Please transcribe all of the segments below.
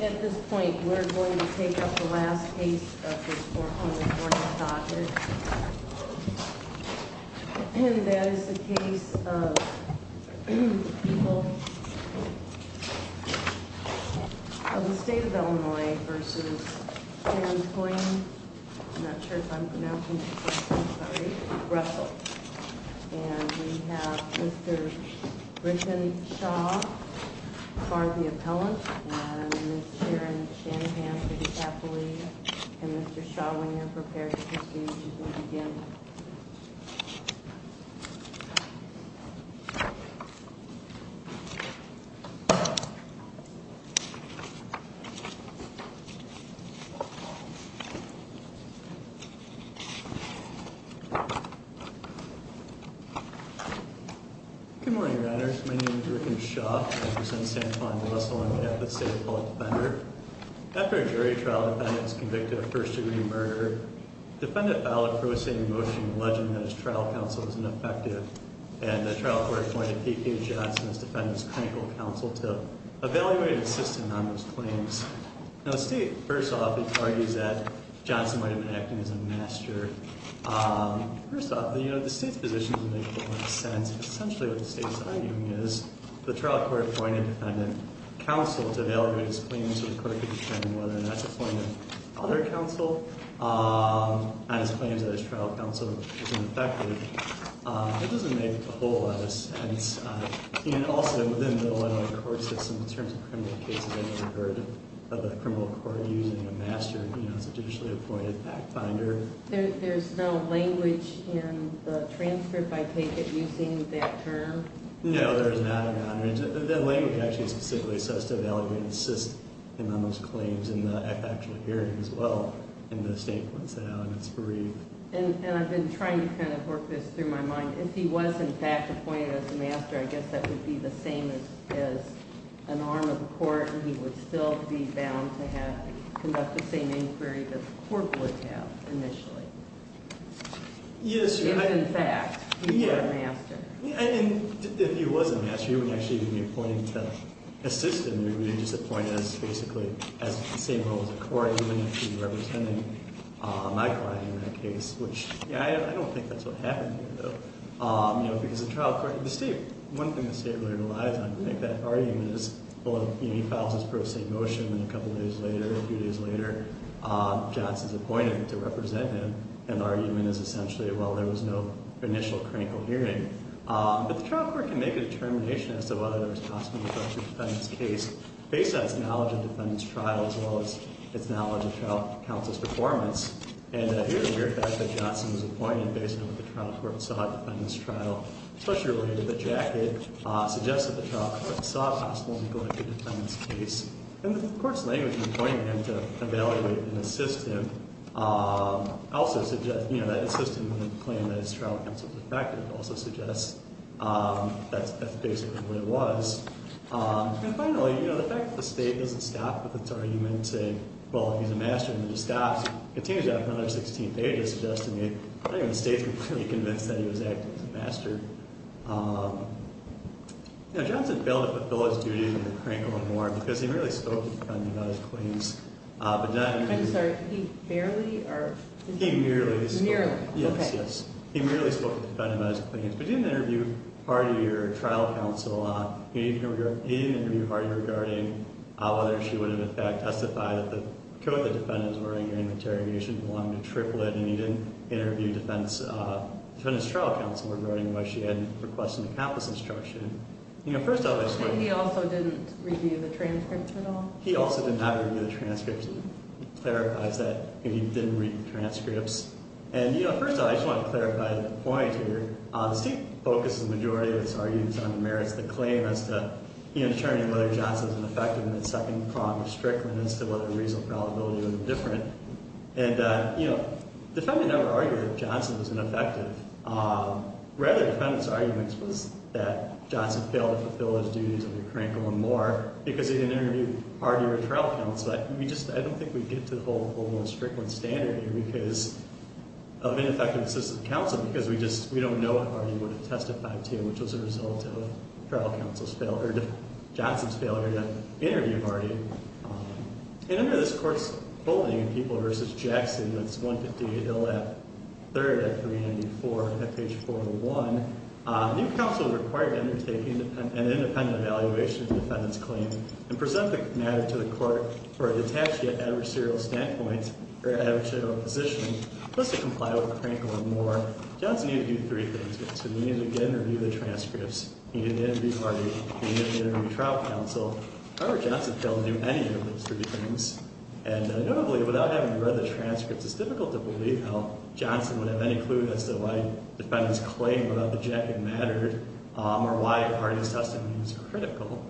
At this point, we're going to take up the last case of this court on this morning's topic. And that is the case of people of the state of Illinois v. Karen Coyne, I'm not sure if I'm pronouncing her correctly, sorry, Russell. And we have Mr. Richmond Shaw for the appellant and Ms. Sharon Shanahan for the athlete. And Mr. Shaw, when you're prepared to proceed, you can begin. Good morning, Your Honors. My name is Richmond Shaw. I represent San Juan v. Russell on behalf of the State Appellate Defender. After a jury trial, a defendant was convicted of first-degree murder. Defendant filed a prosaic motion alleging that his trial counsel was ineffective. And the trial court appointed P.Q. Johnson as defendant's clinical counsel to evaluate and assist him on those claims. Now the state, first off, argues that Johnson might have been acting as a master. First off, the state's position doesn't make a whole lot of sense. Essentially what the state's arguing is the trial court appointed a defendant's counsel to evaluate his claims so the court could determine whether or not to appoint another counsel on his claims that his trial counsel was ineffective. It doesn't make a whole lot of sense. And also, within the Illinois court system, in terms of criminal cases, I've never heard of a criminal court using a master as a judicially appointed fact-finder. There's no language in the transfer by ticket using that term? No, there is not. The language actually specifically says to evaluate and assist him on those claims in the factual hearing as well. And the state points that out and it's bereaved. And I've been trying to kind of work this through my mind. If he was, in fact, appointed as a master, I guess that would be the same as an arm of the court and he would still be bound to conduct the same inquiry that the court would have initially. Yes. If, in fact, he were a master. And if he was a master, he wouldn't actually be appointed to assist him. He would be just appointed as basically the same role as a court. He wouldn't be representing my client in that case, which I don't think that's what happened here, though. One thing the state really relies on, I think, that argument is, well, he files his pro se motion, and a couple of days later, a few days later, Johnson's appointed to represent him. And the argument is essentially, well, there was no initial critical hearing. But the trial court can make a determination as to whether there was possibly a country defendant's case based on its knowledge of defendant's trial as well as its knowledge of trial counsel's performance. And here, the fact that Johnson was appointed based on what the trial court saw of defendant's trial, especially related to the jacket, suggests that the trial court saw a possible neglected defendant's case. And the court's language in appointing him to evaluate and assist him also suggests, you know, that assist him in the claim that his trial counsel's effective also suggests that's basically the way it was. And finally, you know, the fact that the state doesn't stop with its argument saying, well, he's a master, and then it stops, continues on for another 16 pages suggesting that the state's completely convinced that he was acting as a master. Now, Johnson failed to fulfill his duties in the Krankel Memorial because he merely spoke to the defendant about his claims. I'm sorry, he barely or? He merely spoke. Merely, okay. Yes, yes. He merely spoke to the defendant about his claims. But he didn't interview Hardy or trial counsel. He didn't interview Hardy regarding whether she would have, in fact, testified that the code the defendants were in during the interrogation belonged to Triplett. And he didn't interview defendant's trial counsel regarding whether she had requested the campus instruction. You know, first of all, I just want to. He also didn't review the transcripts at all? He also did not review the transcripts. It clarifies that he didn't read the transcripts. And, you know, first of all, I just want to clarify the point here. The state focuses the majority of its arguments on the merits of the claim as to, you know, determining whether Johnson was an effective in the second prong of Strickland as to whether the reasonable probability was indifferent. And, you know, the defendant never argued that Johnson was ineffective. Rather, the defendant's argument was that Johnson failed to fulfill his duties under Krankel and Moore because he didn't interview Hardy or trial counsel. But we just, I don't think we get to the whole Strickland standard here because of ineffective assistant counsel because we just, we don't know what Hardy would have testified to, which was a result of trial counsel's failure, Johnson's failure to interview Hardy. And under this court's bulletin, People v. Jackson, that's 158LF, third at 394, at page 401, new counsel is required to undertake an independent evaluation of the defendant's claim and present the matter to the court for a detached yet adversarial standpoint or adversarial position, plus to comply with Krankel and Moore. Johnson needed to do three things with this. He needed to get an interview with the transcripts. He needed to interview Hardy. He needed to interview trial counsel. However, Johnson failed to do any of those three things. And notably, without having read the transcripts, it's difficult to believe how Johnson would have any clue as to why the defendant's claim about the jacket mattered or why Hardy's testimony was critical.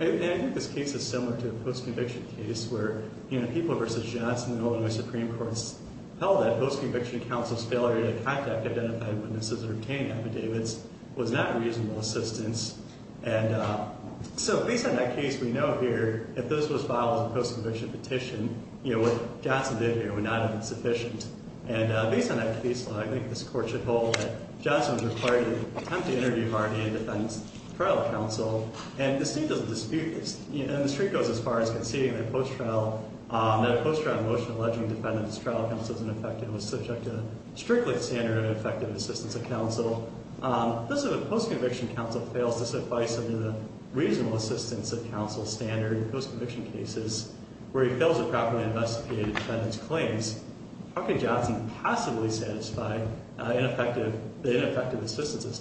And I think this case is similar to a post-conviction case where, you know, People v. Johnson, the Illinois Supreme Court's held that post-conviction counsel's failure to contact identified witnesses and obtain affidavits was not reasonable assistance. And so based on that case, we know here, if this was filed as a post-conviction petition, you know, what Johnson did here would not have been sufficient. And based on that case law, I think this court should hold that Johnson was required to attempt to interview Hardy and defend his trial counsel. And the state doesn't dispute this. And the street goes as far as conceding that a post-trial motion alleging the defendant's trial counsel is ineffective was subject to strictly standard ineffective assistance of counsel. This is a post-conviction counsel fails to suffice under the reasonable assistance of counsel standard in post-conviction cases where he fails to properly investigate the defendant's claims. How could Johnson possibly satisfy the ineffective assistance of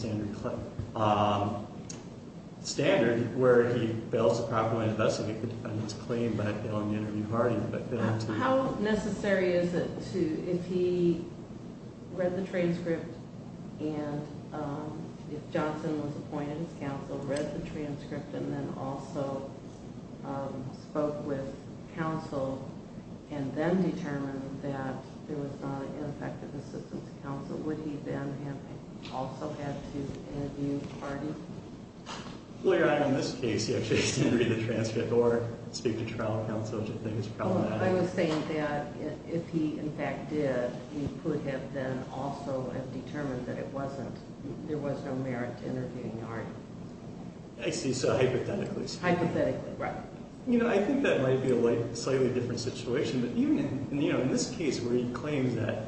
standard where he fails to properly investigate the defendant's claim by failing to interview Hardy? How necessary is it to, if he read the transcript and if Johnson was appointed as counsel, read the transcript and then also spoke with counsel and then determined that there was not an ineffective assistance of counsel, would he then have also had to interview Hardy? Well, Your Honor, in this case, he actually has to read the transcript or speak to trial counsel, which I think is problematic. I was saying that if he in fact did, he could have then also have determined that it wasn't, there was no merit to interviewing Hardy. I see, so hypothetically speaking. Hypothetically, right. You know, I think that might be a slightly different situation, but even in this case where he claims that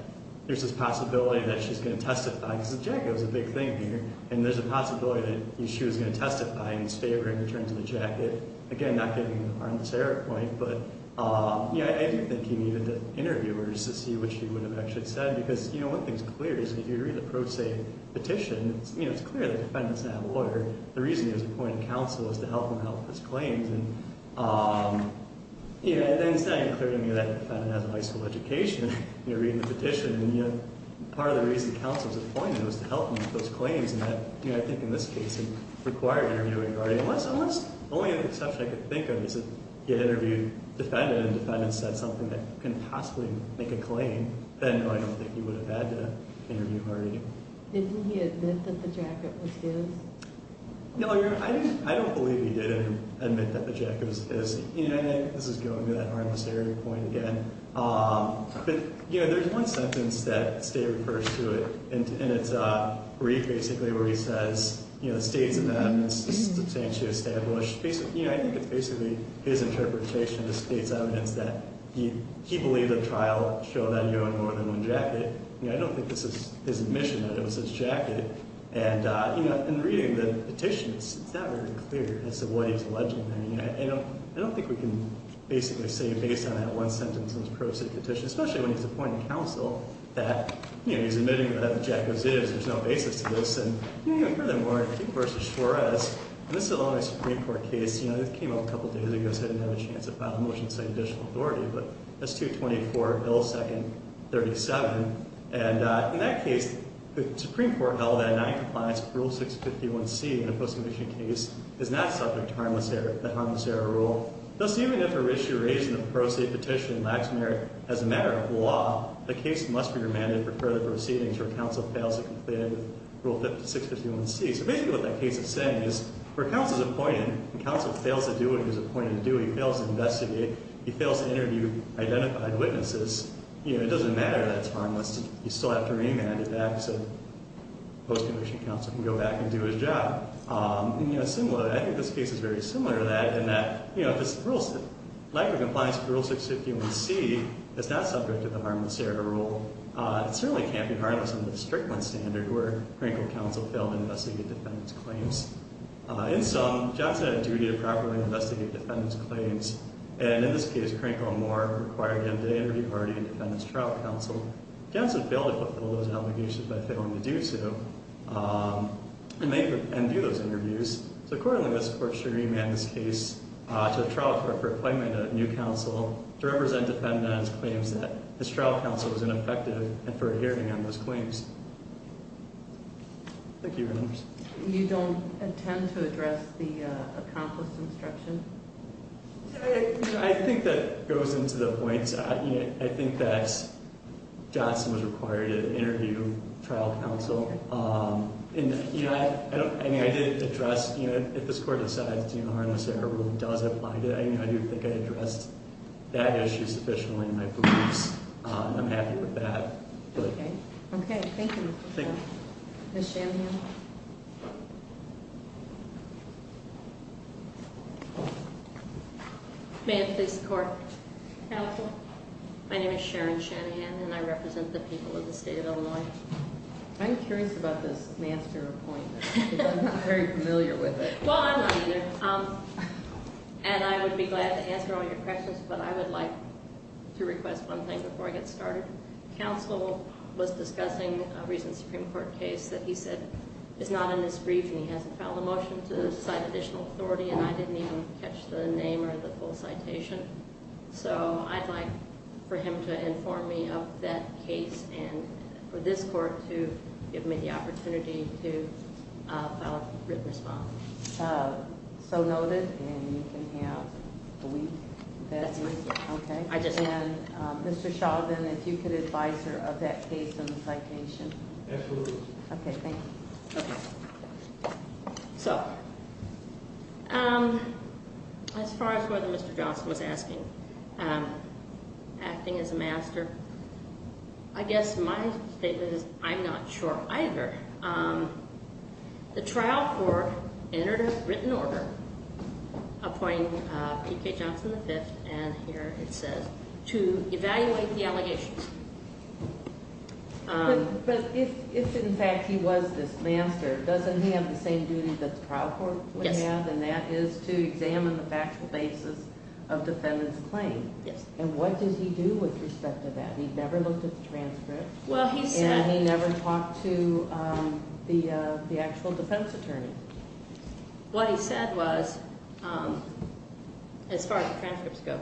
there's this possibility that she's going to testify, because the jacket was a big thing here, and there's a possibility that she was going to testify in his favor in terms of the jacket. Again, not getting on the Sarah point, but yeah, I do think he needed the interviewers to see what she would have actually said. Because, you know, one thing's clear is that if you read the pro se petition, you know, it's clear that the defendant's not a lawyer. The reason he was appointed counsel is to help him help his claims. And, you know, and then it's not even clear to me that the defendant has a high school education, you know, reading the petition. And, you know, part of the reason the counsel was appointed was to help him with those claims. And that, you know, I think in this case it required interviewing Hardy. Unless only an exception I could think of is if you interviewed the defendant and the defendant said something that couldn't possibly make a claim, then no, I don't think he would have had to interview Hardy. Didn't he admit that the jacket was his? No, I don't believe he did admit that the jacket was his. You know, I think this is going to that harmless area point again. But, you know, there's one sentence that State refers to it, and it's brief, basically, where he says, you know, the State's amendments substantially established. You know, I think it's basically his interpretation of the State's evidence that he believed the trial showed that he owned more than one jacket. You know, I don't think this is his admission that it was his jacket. And, you know, in reading the petition, it's not very clear as to what he was alleging. I mean, I don't think we can basically say based on that one sentence in this pro-State petition, especially when he's appointing counsel, that, you know, he's admitting that the jacket was his. There's no basis to this. And, you know, furthermore, I think versus Suarez, and this is a law in a Supreme Court case, you know, this came out a couple of days ago, so I didn't have a chance to file a motion saying additional authority. But that's 224, Bill 2nd, 37. And in that case, the Supreme Court held that denying compliance with Rule 651C in a post-commissioned case is not subject to the harmless error rule. Thus, even if a rishu raised in the pro-State petition lacks merit as a matter of law, the case must be remanded for further proceedings where counsel fails to comply with Rule 651C. So basically what that case is saying is where counsel's appointed, and counsel fails to do what he was appointed to do, he fails to investigate, he fails to interview identified witnesses, you know, it doesn't matter that it's harmless. You still have to remand it back so the post-commissioned counsel can go back and do his job. And, you know, similarly, I think this case is very similar to that in that, you know, if there's a lack of compliance with Rule 651C, it's not subject to the harmless error rule. It certainly can't be harmless under the Strickland standard where Franklin counsel failed to investigate defendant's claims. In sum, Johnson had a duty to properly investigate defendant's claims. And in this case, Cranko and Moore required him to interview Hardy and defendant's trial counsel. Johnson failed to fulfill those obligations by failing to do so and do those interviews. So accordingly, this court should remand this case to the trial court for appointment of a new counsel to represent defendant's claims that his trial counsel was ineffective and for adhering on those claims. Thank you, Your Honors. You don't intend to address the accomplished instruction? I think that goes into the points. I think that Johnson was required to interview trial counsel. And, you know, I did address, you know, if this court decides that the harmless error rule does apply, I do think I addressed that issue sufficiently in my briefs. I'm happy with that. Okay. Okay. Thank you. Ms. Shanahan. May it please the court. Counsel. My name is Sharon Shanahan and I represent the people of the state of Illinois. I'm curious about this master appointment. I'm not very familiar with it. Well, I'm not either. And I would be glad to answer all your questions, but I would like to request one thing before I get started. Counsel was discussing a recent Supreme Court case that he said is not in this brief and he hasn't filed a motion to cite additional authority. And I didn't even catch the name or the full citation. So I'd like for him to inform me of that case and for this court to give me the opportunity to file a written response. So noted. And you can have a week. That's right. Okay. And Mr. Sheldon, if you could advise her of that case and the citation. Absolutely. Okay, thank you. Okay. So, as far as whether Mr. Johnson was asking, acting as a master, I guess my statement is I'm not sure either. The trial court entered a written order appointing P.K. Johnson V, and here it says, to evaluate the allegations. But if, in fact, he was this master, doesn't he have the same duty that the trial court would have? Yes. And that is to examine the factual basis of defendant's claim. Yes. And what does he do with respect to that? He never looked at the transcript. Well, he said- And he never talked to the actual defense attorney. What he said was, as far as the transcripts go,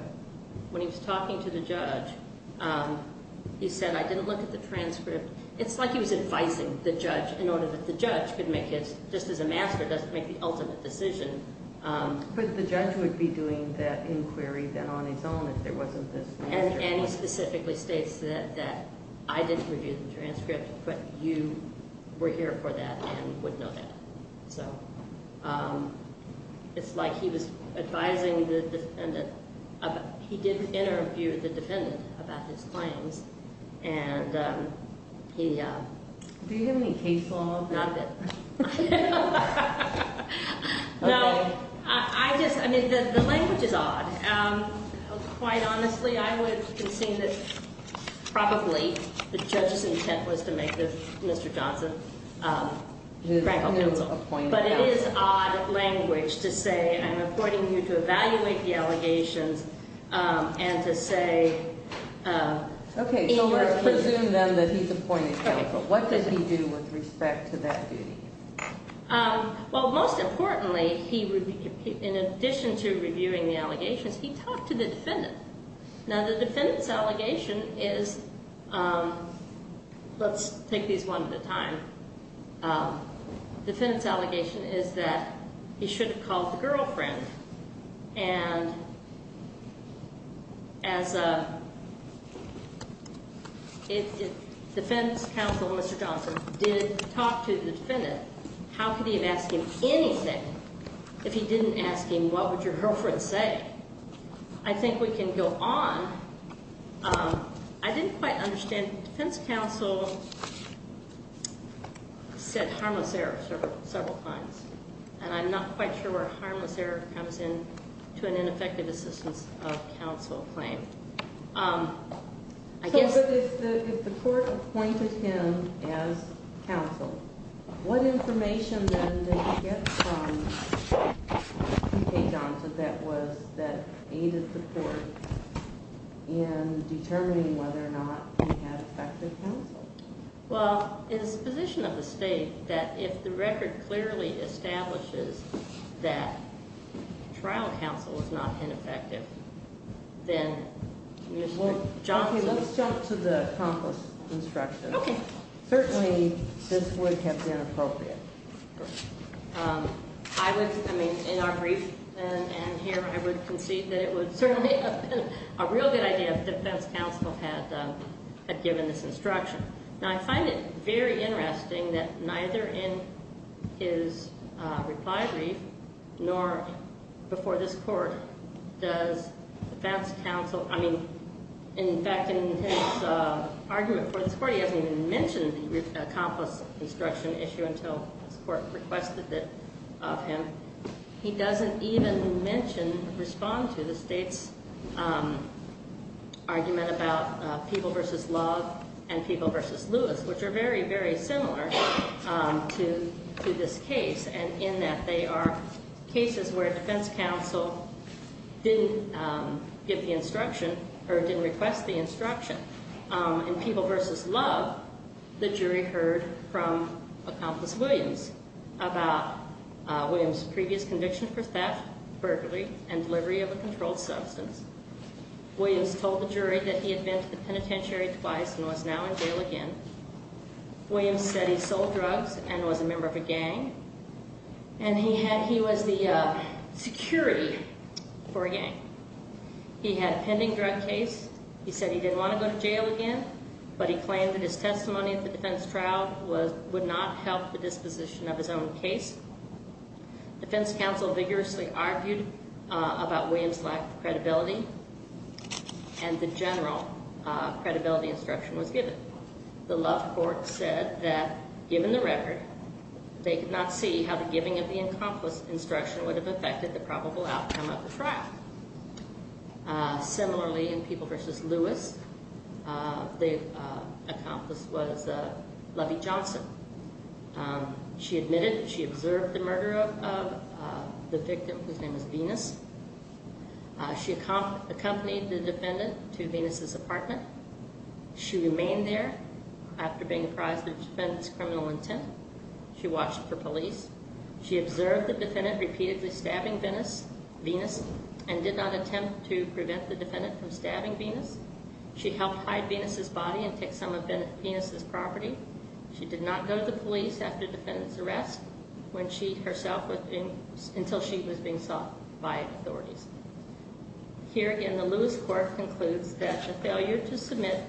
when he was talking to the judge, he said, I didn't look at the transcript. It's like he was advising the judge in order that the judge could make his, just as a master does, make the ultimate decision. But the judge would be doing that inquiry then on his own if there wasn't this- And he specifically states that I didn't review the transcript, but you were here for that and would know that. So it's like he was advising the defendant. He did interview the defendant about his claims, and he- Do you have any case law? Not a bit. No, I just, I mean, the language is odd. Quite honestly, I would concede that probably the judge's intent was to make this Mr. Johnson grant counsel. But it is odd language to say I'm appointing you to evaluate the allegations and to say- Okay, so let's presume then that he's appointed counsel. What does he do with respect to that duty? Well, most importantly, in addition to reviewing the allegations, he talked to the defendant. Now, the defendant's allegation is- Let's take these one at a time. The defendant's allegation is that he should have called the girlfriend. And as a defense counsel, Mr. Johnson did talk to the defendant. How could he have asked him anything if he didn't ask him what would your girlfriend say? I think we can go on. I didn't quite understand the defense counsel said harmless error several times. And I'm not quite sure where harmless error comes in to an ineffective assistance of counsel claim. So if the court appointed him as counsel, what information then did he get from T.K. Johnson that aided the court in determining whether or not he had effective counsel? Well, it's the position of the state that if the record clearly establishes that trial counsel was not ineffective, then Mr. Johnson- Okay, let's jump to the accomplice instruction. Okay. Certainly, this would have been appropriate. I would- I mean, in our brief and here, I would concede that it would certainly have been a real good idea if defense counsel had given this instruction. Now, I find it very interesting that neither in his reply brief nor before this court does defense counsel- this court requested it of him- he doesn't even mention, respond to the state's argument about people versus love and people versus Lewis, which are very, very similar to this case, and in that they are cases where defense counsel didn't give the instruction or didn't request the instruction. In people versus love, the jury heard from Accomplice Williams about Williams' previous conviction for theft, burglary, and delivery of a controlled substance. Williams told the jury that he had been to the penitentiary twice and was now in jail again. Williams said he sold drugs and was a member of a gang, and he was the security for a gang. He had a pending drug case. He said he didn't want to go to jail again, but he claimed that his testimony at the defense trial would not help the disposition of his own case. Defense counsel vigorously argued about Williams' lack of credibility, and the general credibility instruction was given. The love court said that, given the record, they could not see how the giving of the Accomplice instruction would have affected the probable outcome of the trial. Similarly, in people versus Lewis, the Accomplice was Lovie Johnson. She admitted she observed the murder of the victim, whose name is Venus. She accompanied the defendant to Venus' apartment. She remained there after being apprised of the defendant's criminal intent. She watched for police. She observed the defendant repeatedly stabbing Venus and did not attempt to prevent the defendant from stabbing Venus. She helped hide Venus' body and take some of Venus' property. She did not go to the police after the defendant's arrest until she was being sought by authorities. Here again, the Lewis court concludes that the failure to submit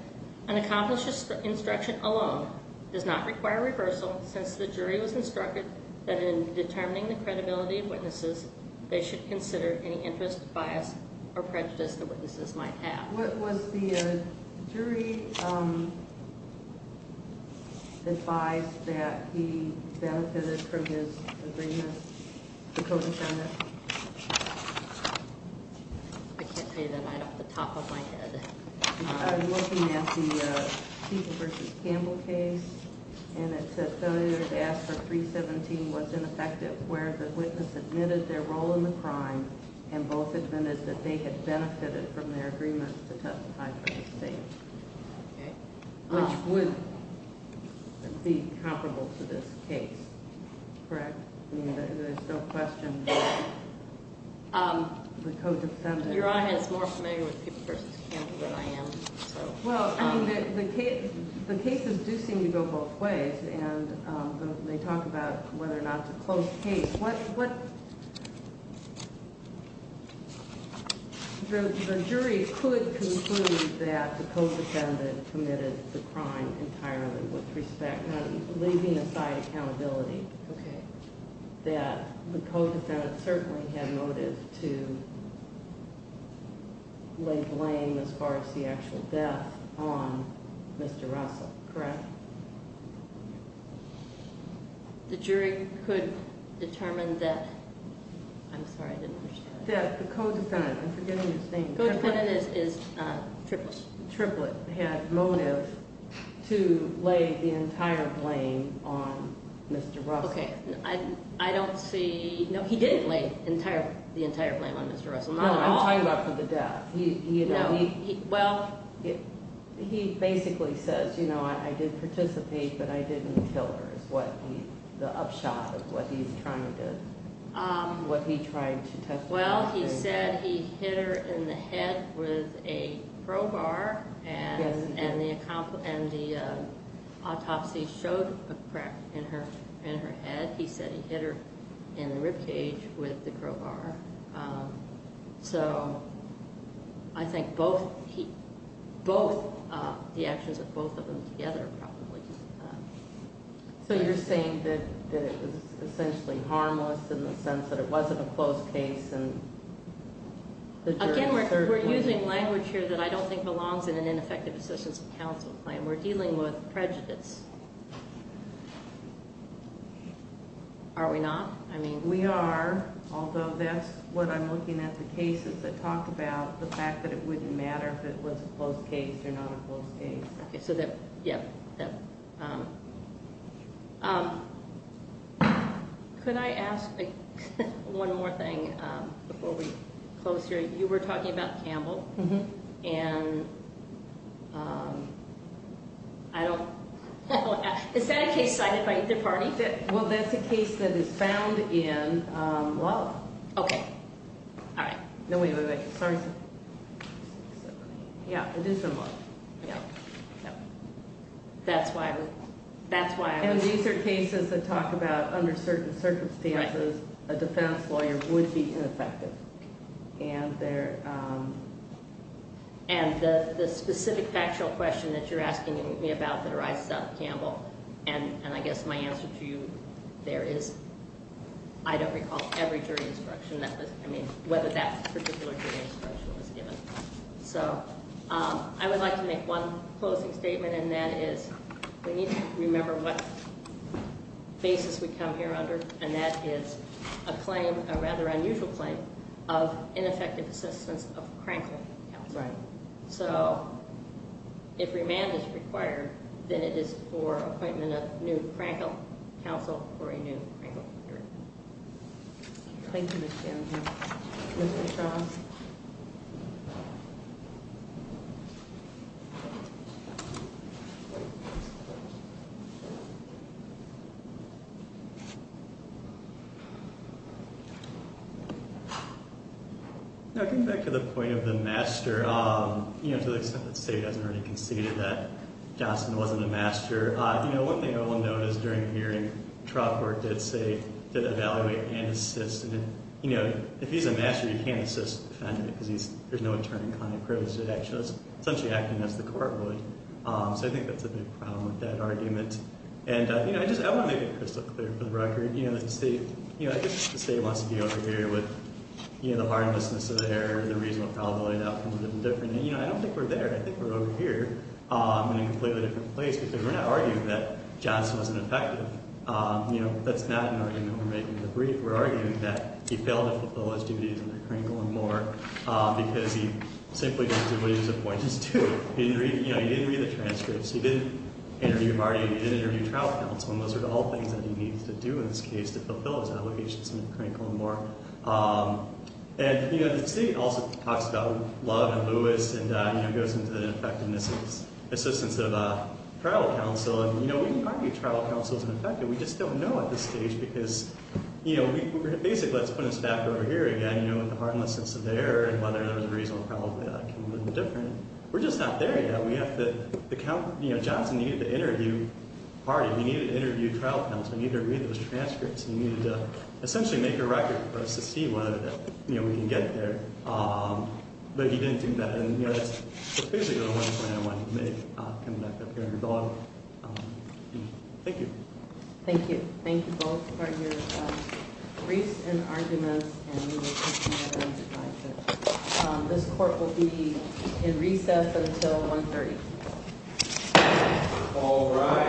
an Accomplice instruction alone does not require reversal, since the jury was instructed that in determining the credibility of witnesses, they should consider any interest, bias, or prejudice the witnesses might have. What was the jury advised that he benefited from his agreement? The co-defendant? I can't say that off the top of my head. I'm looking at the People v. Campbell case, and it says failure to ask for 317 was ineffective, where the witness admitted their role in the crime and both admitted that they had benefited from their agreement to testify for the state. Okay. Which would be comparable to this case, correct? I mean, there's no question that the co-defendant... Well, the cases do seem to go both ways, and they talk about whether or not to close case. The jury could conclude that the co-defendant committed the crime entirely with respect... I'm leaving aside accountability. Okay. That the co-defendant certainly had motive to lay blame, as far as the actual death, on Mr. Russell, correct? The jury could determine that... I'm sorry, I didn't understand. That the co-defendant... I'm forgetting his name. Co-defendant is Triplett. Triplett had motive to lay the entire blame on Mr. Russell. Okay. I don't see... No, he didn't lay the entire blame on Mr. Russell. No, I'm talking about for the death. No. Well... He basically says, you know, I did participate, but I didn't kill her, is the upshot of what he's trying to... What he tried to testify... Well, he said he hit her in the head with a crowbar, and the autopsy showed a crack in her head. He said he hit her in the ribcage with the crowbar. So I think both the actions of both of them together probably... So you're saying that it was essentially harmless in the sense that it wasn't a closed case and the jury... Again, we're using language here that I don't think belongs in an ineffective assistance of counsel claim. We're dealing with prejudice. Are we not? I mean... We are, although that's what I'm looking at the cases that talk about the fact that it wouldn't matter if it was a closed case or not a closed case. Okay, so that... Yeah. Could I ask one more thing before we close here? You were talking about Campbell, and I don't... Is that a case cited by either party? Well, that's a case that is found in Lala. Okay. All right. No, wait, wait, wait. Sorry. Yeah, it is in Lala. Yeah. That's why I was... And these are cases that talk about under certain circumstances a defense lawyer would be ineffective, and they're... And the specific factual question that you're asking me about that arises out of Campbell, and I guess my answer to you there is I don't recall every jury instruction that was... I mean, whether that particular jury instruction was given. So I would like to make one closing statement, and that is we need to remember what basis we come here under, and that is a claim, a rather unusual claim, of ineffective assistance of Crankle Council. Right. So if remand is required, then it is for appointment of new Crankle Council or a new Crankle jury. Thank you, Ms. Campbell. Mr. Strong? No, going back to the point of the master, you know, to the extent that State hasn't already conceded that Johnson wasn't a master, you know, one thing I will note is during the hearing, the trial court did say, did evaluate and assist. And, you know, if he's a master, you can't assist a defendant because there's no attorney client privilege. It actually is essentially acting as the court would. So I think that's a big problem with that argument. And, you know, I just want to make it crystal clear for the record, you know, that the State, you know, I think the State wants to be over here with, you know, the harmlessness of the error, the reasonable probability of outcomes a little different. And, you know, I don't think we're there. I think we're over here in a completely different place because we're not arguing that Johnson wasn't effective. You know, that's not an argument we're making in the brief. We're arguing that he failed to fulfill his duties under Crankle and Moore because he simply didn't do what he was appointed to. He didn't read, you know, he didn't read the transcripts. He didn't interview Hardy. He didn't interview trial counsel. And those are all things that he needs to do in this case to fulfill his obligations under Crankle and Moore. And, you know, the State also talks about Love and Lewis and, you know, goes into the ineffectiveness of his assistance of trial counsel. And, you know, we can argue trial counsel isn't effective. We just don't know at this stage because, you know, basically that's putting us back over here again, you know, with the harmlessness of the error and whether there was a reasonable probability of outcome a little different. We're just not there yet. We have to account, you know, Johnson needed to interview Hardy. He needed to interview trial counsel. He needed to read those transcripts. He needed to essentially make a record for us to see whether, you know, we can get there. But he didn't do that. And, you know, that's basically the one plan I wanted to make coming back up here. Thank you. Thank you. Thank you both for your briefs and arguments. This court will be in recess until 1.30. All right.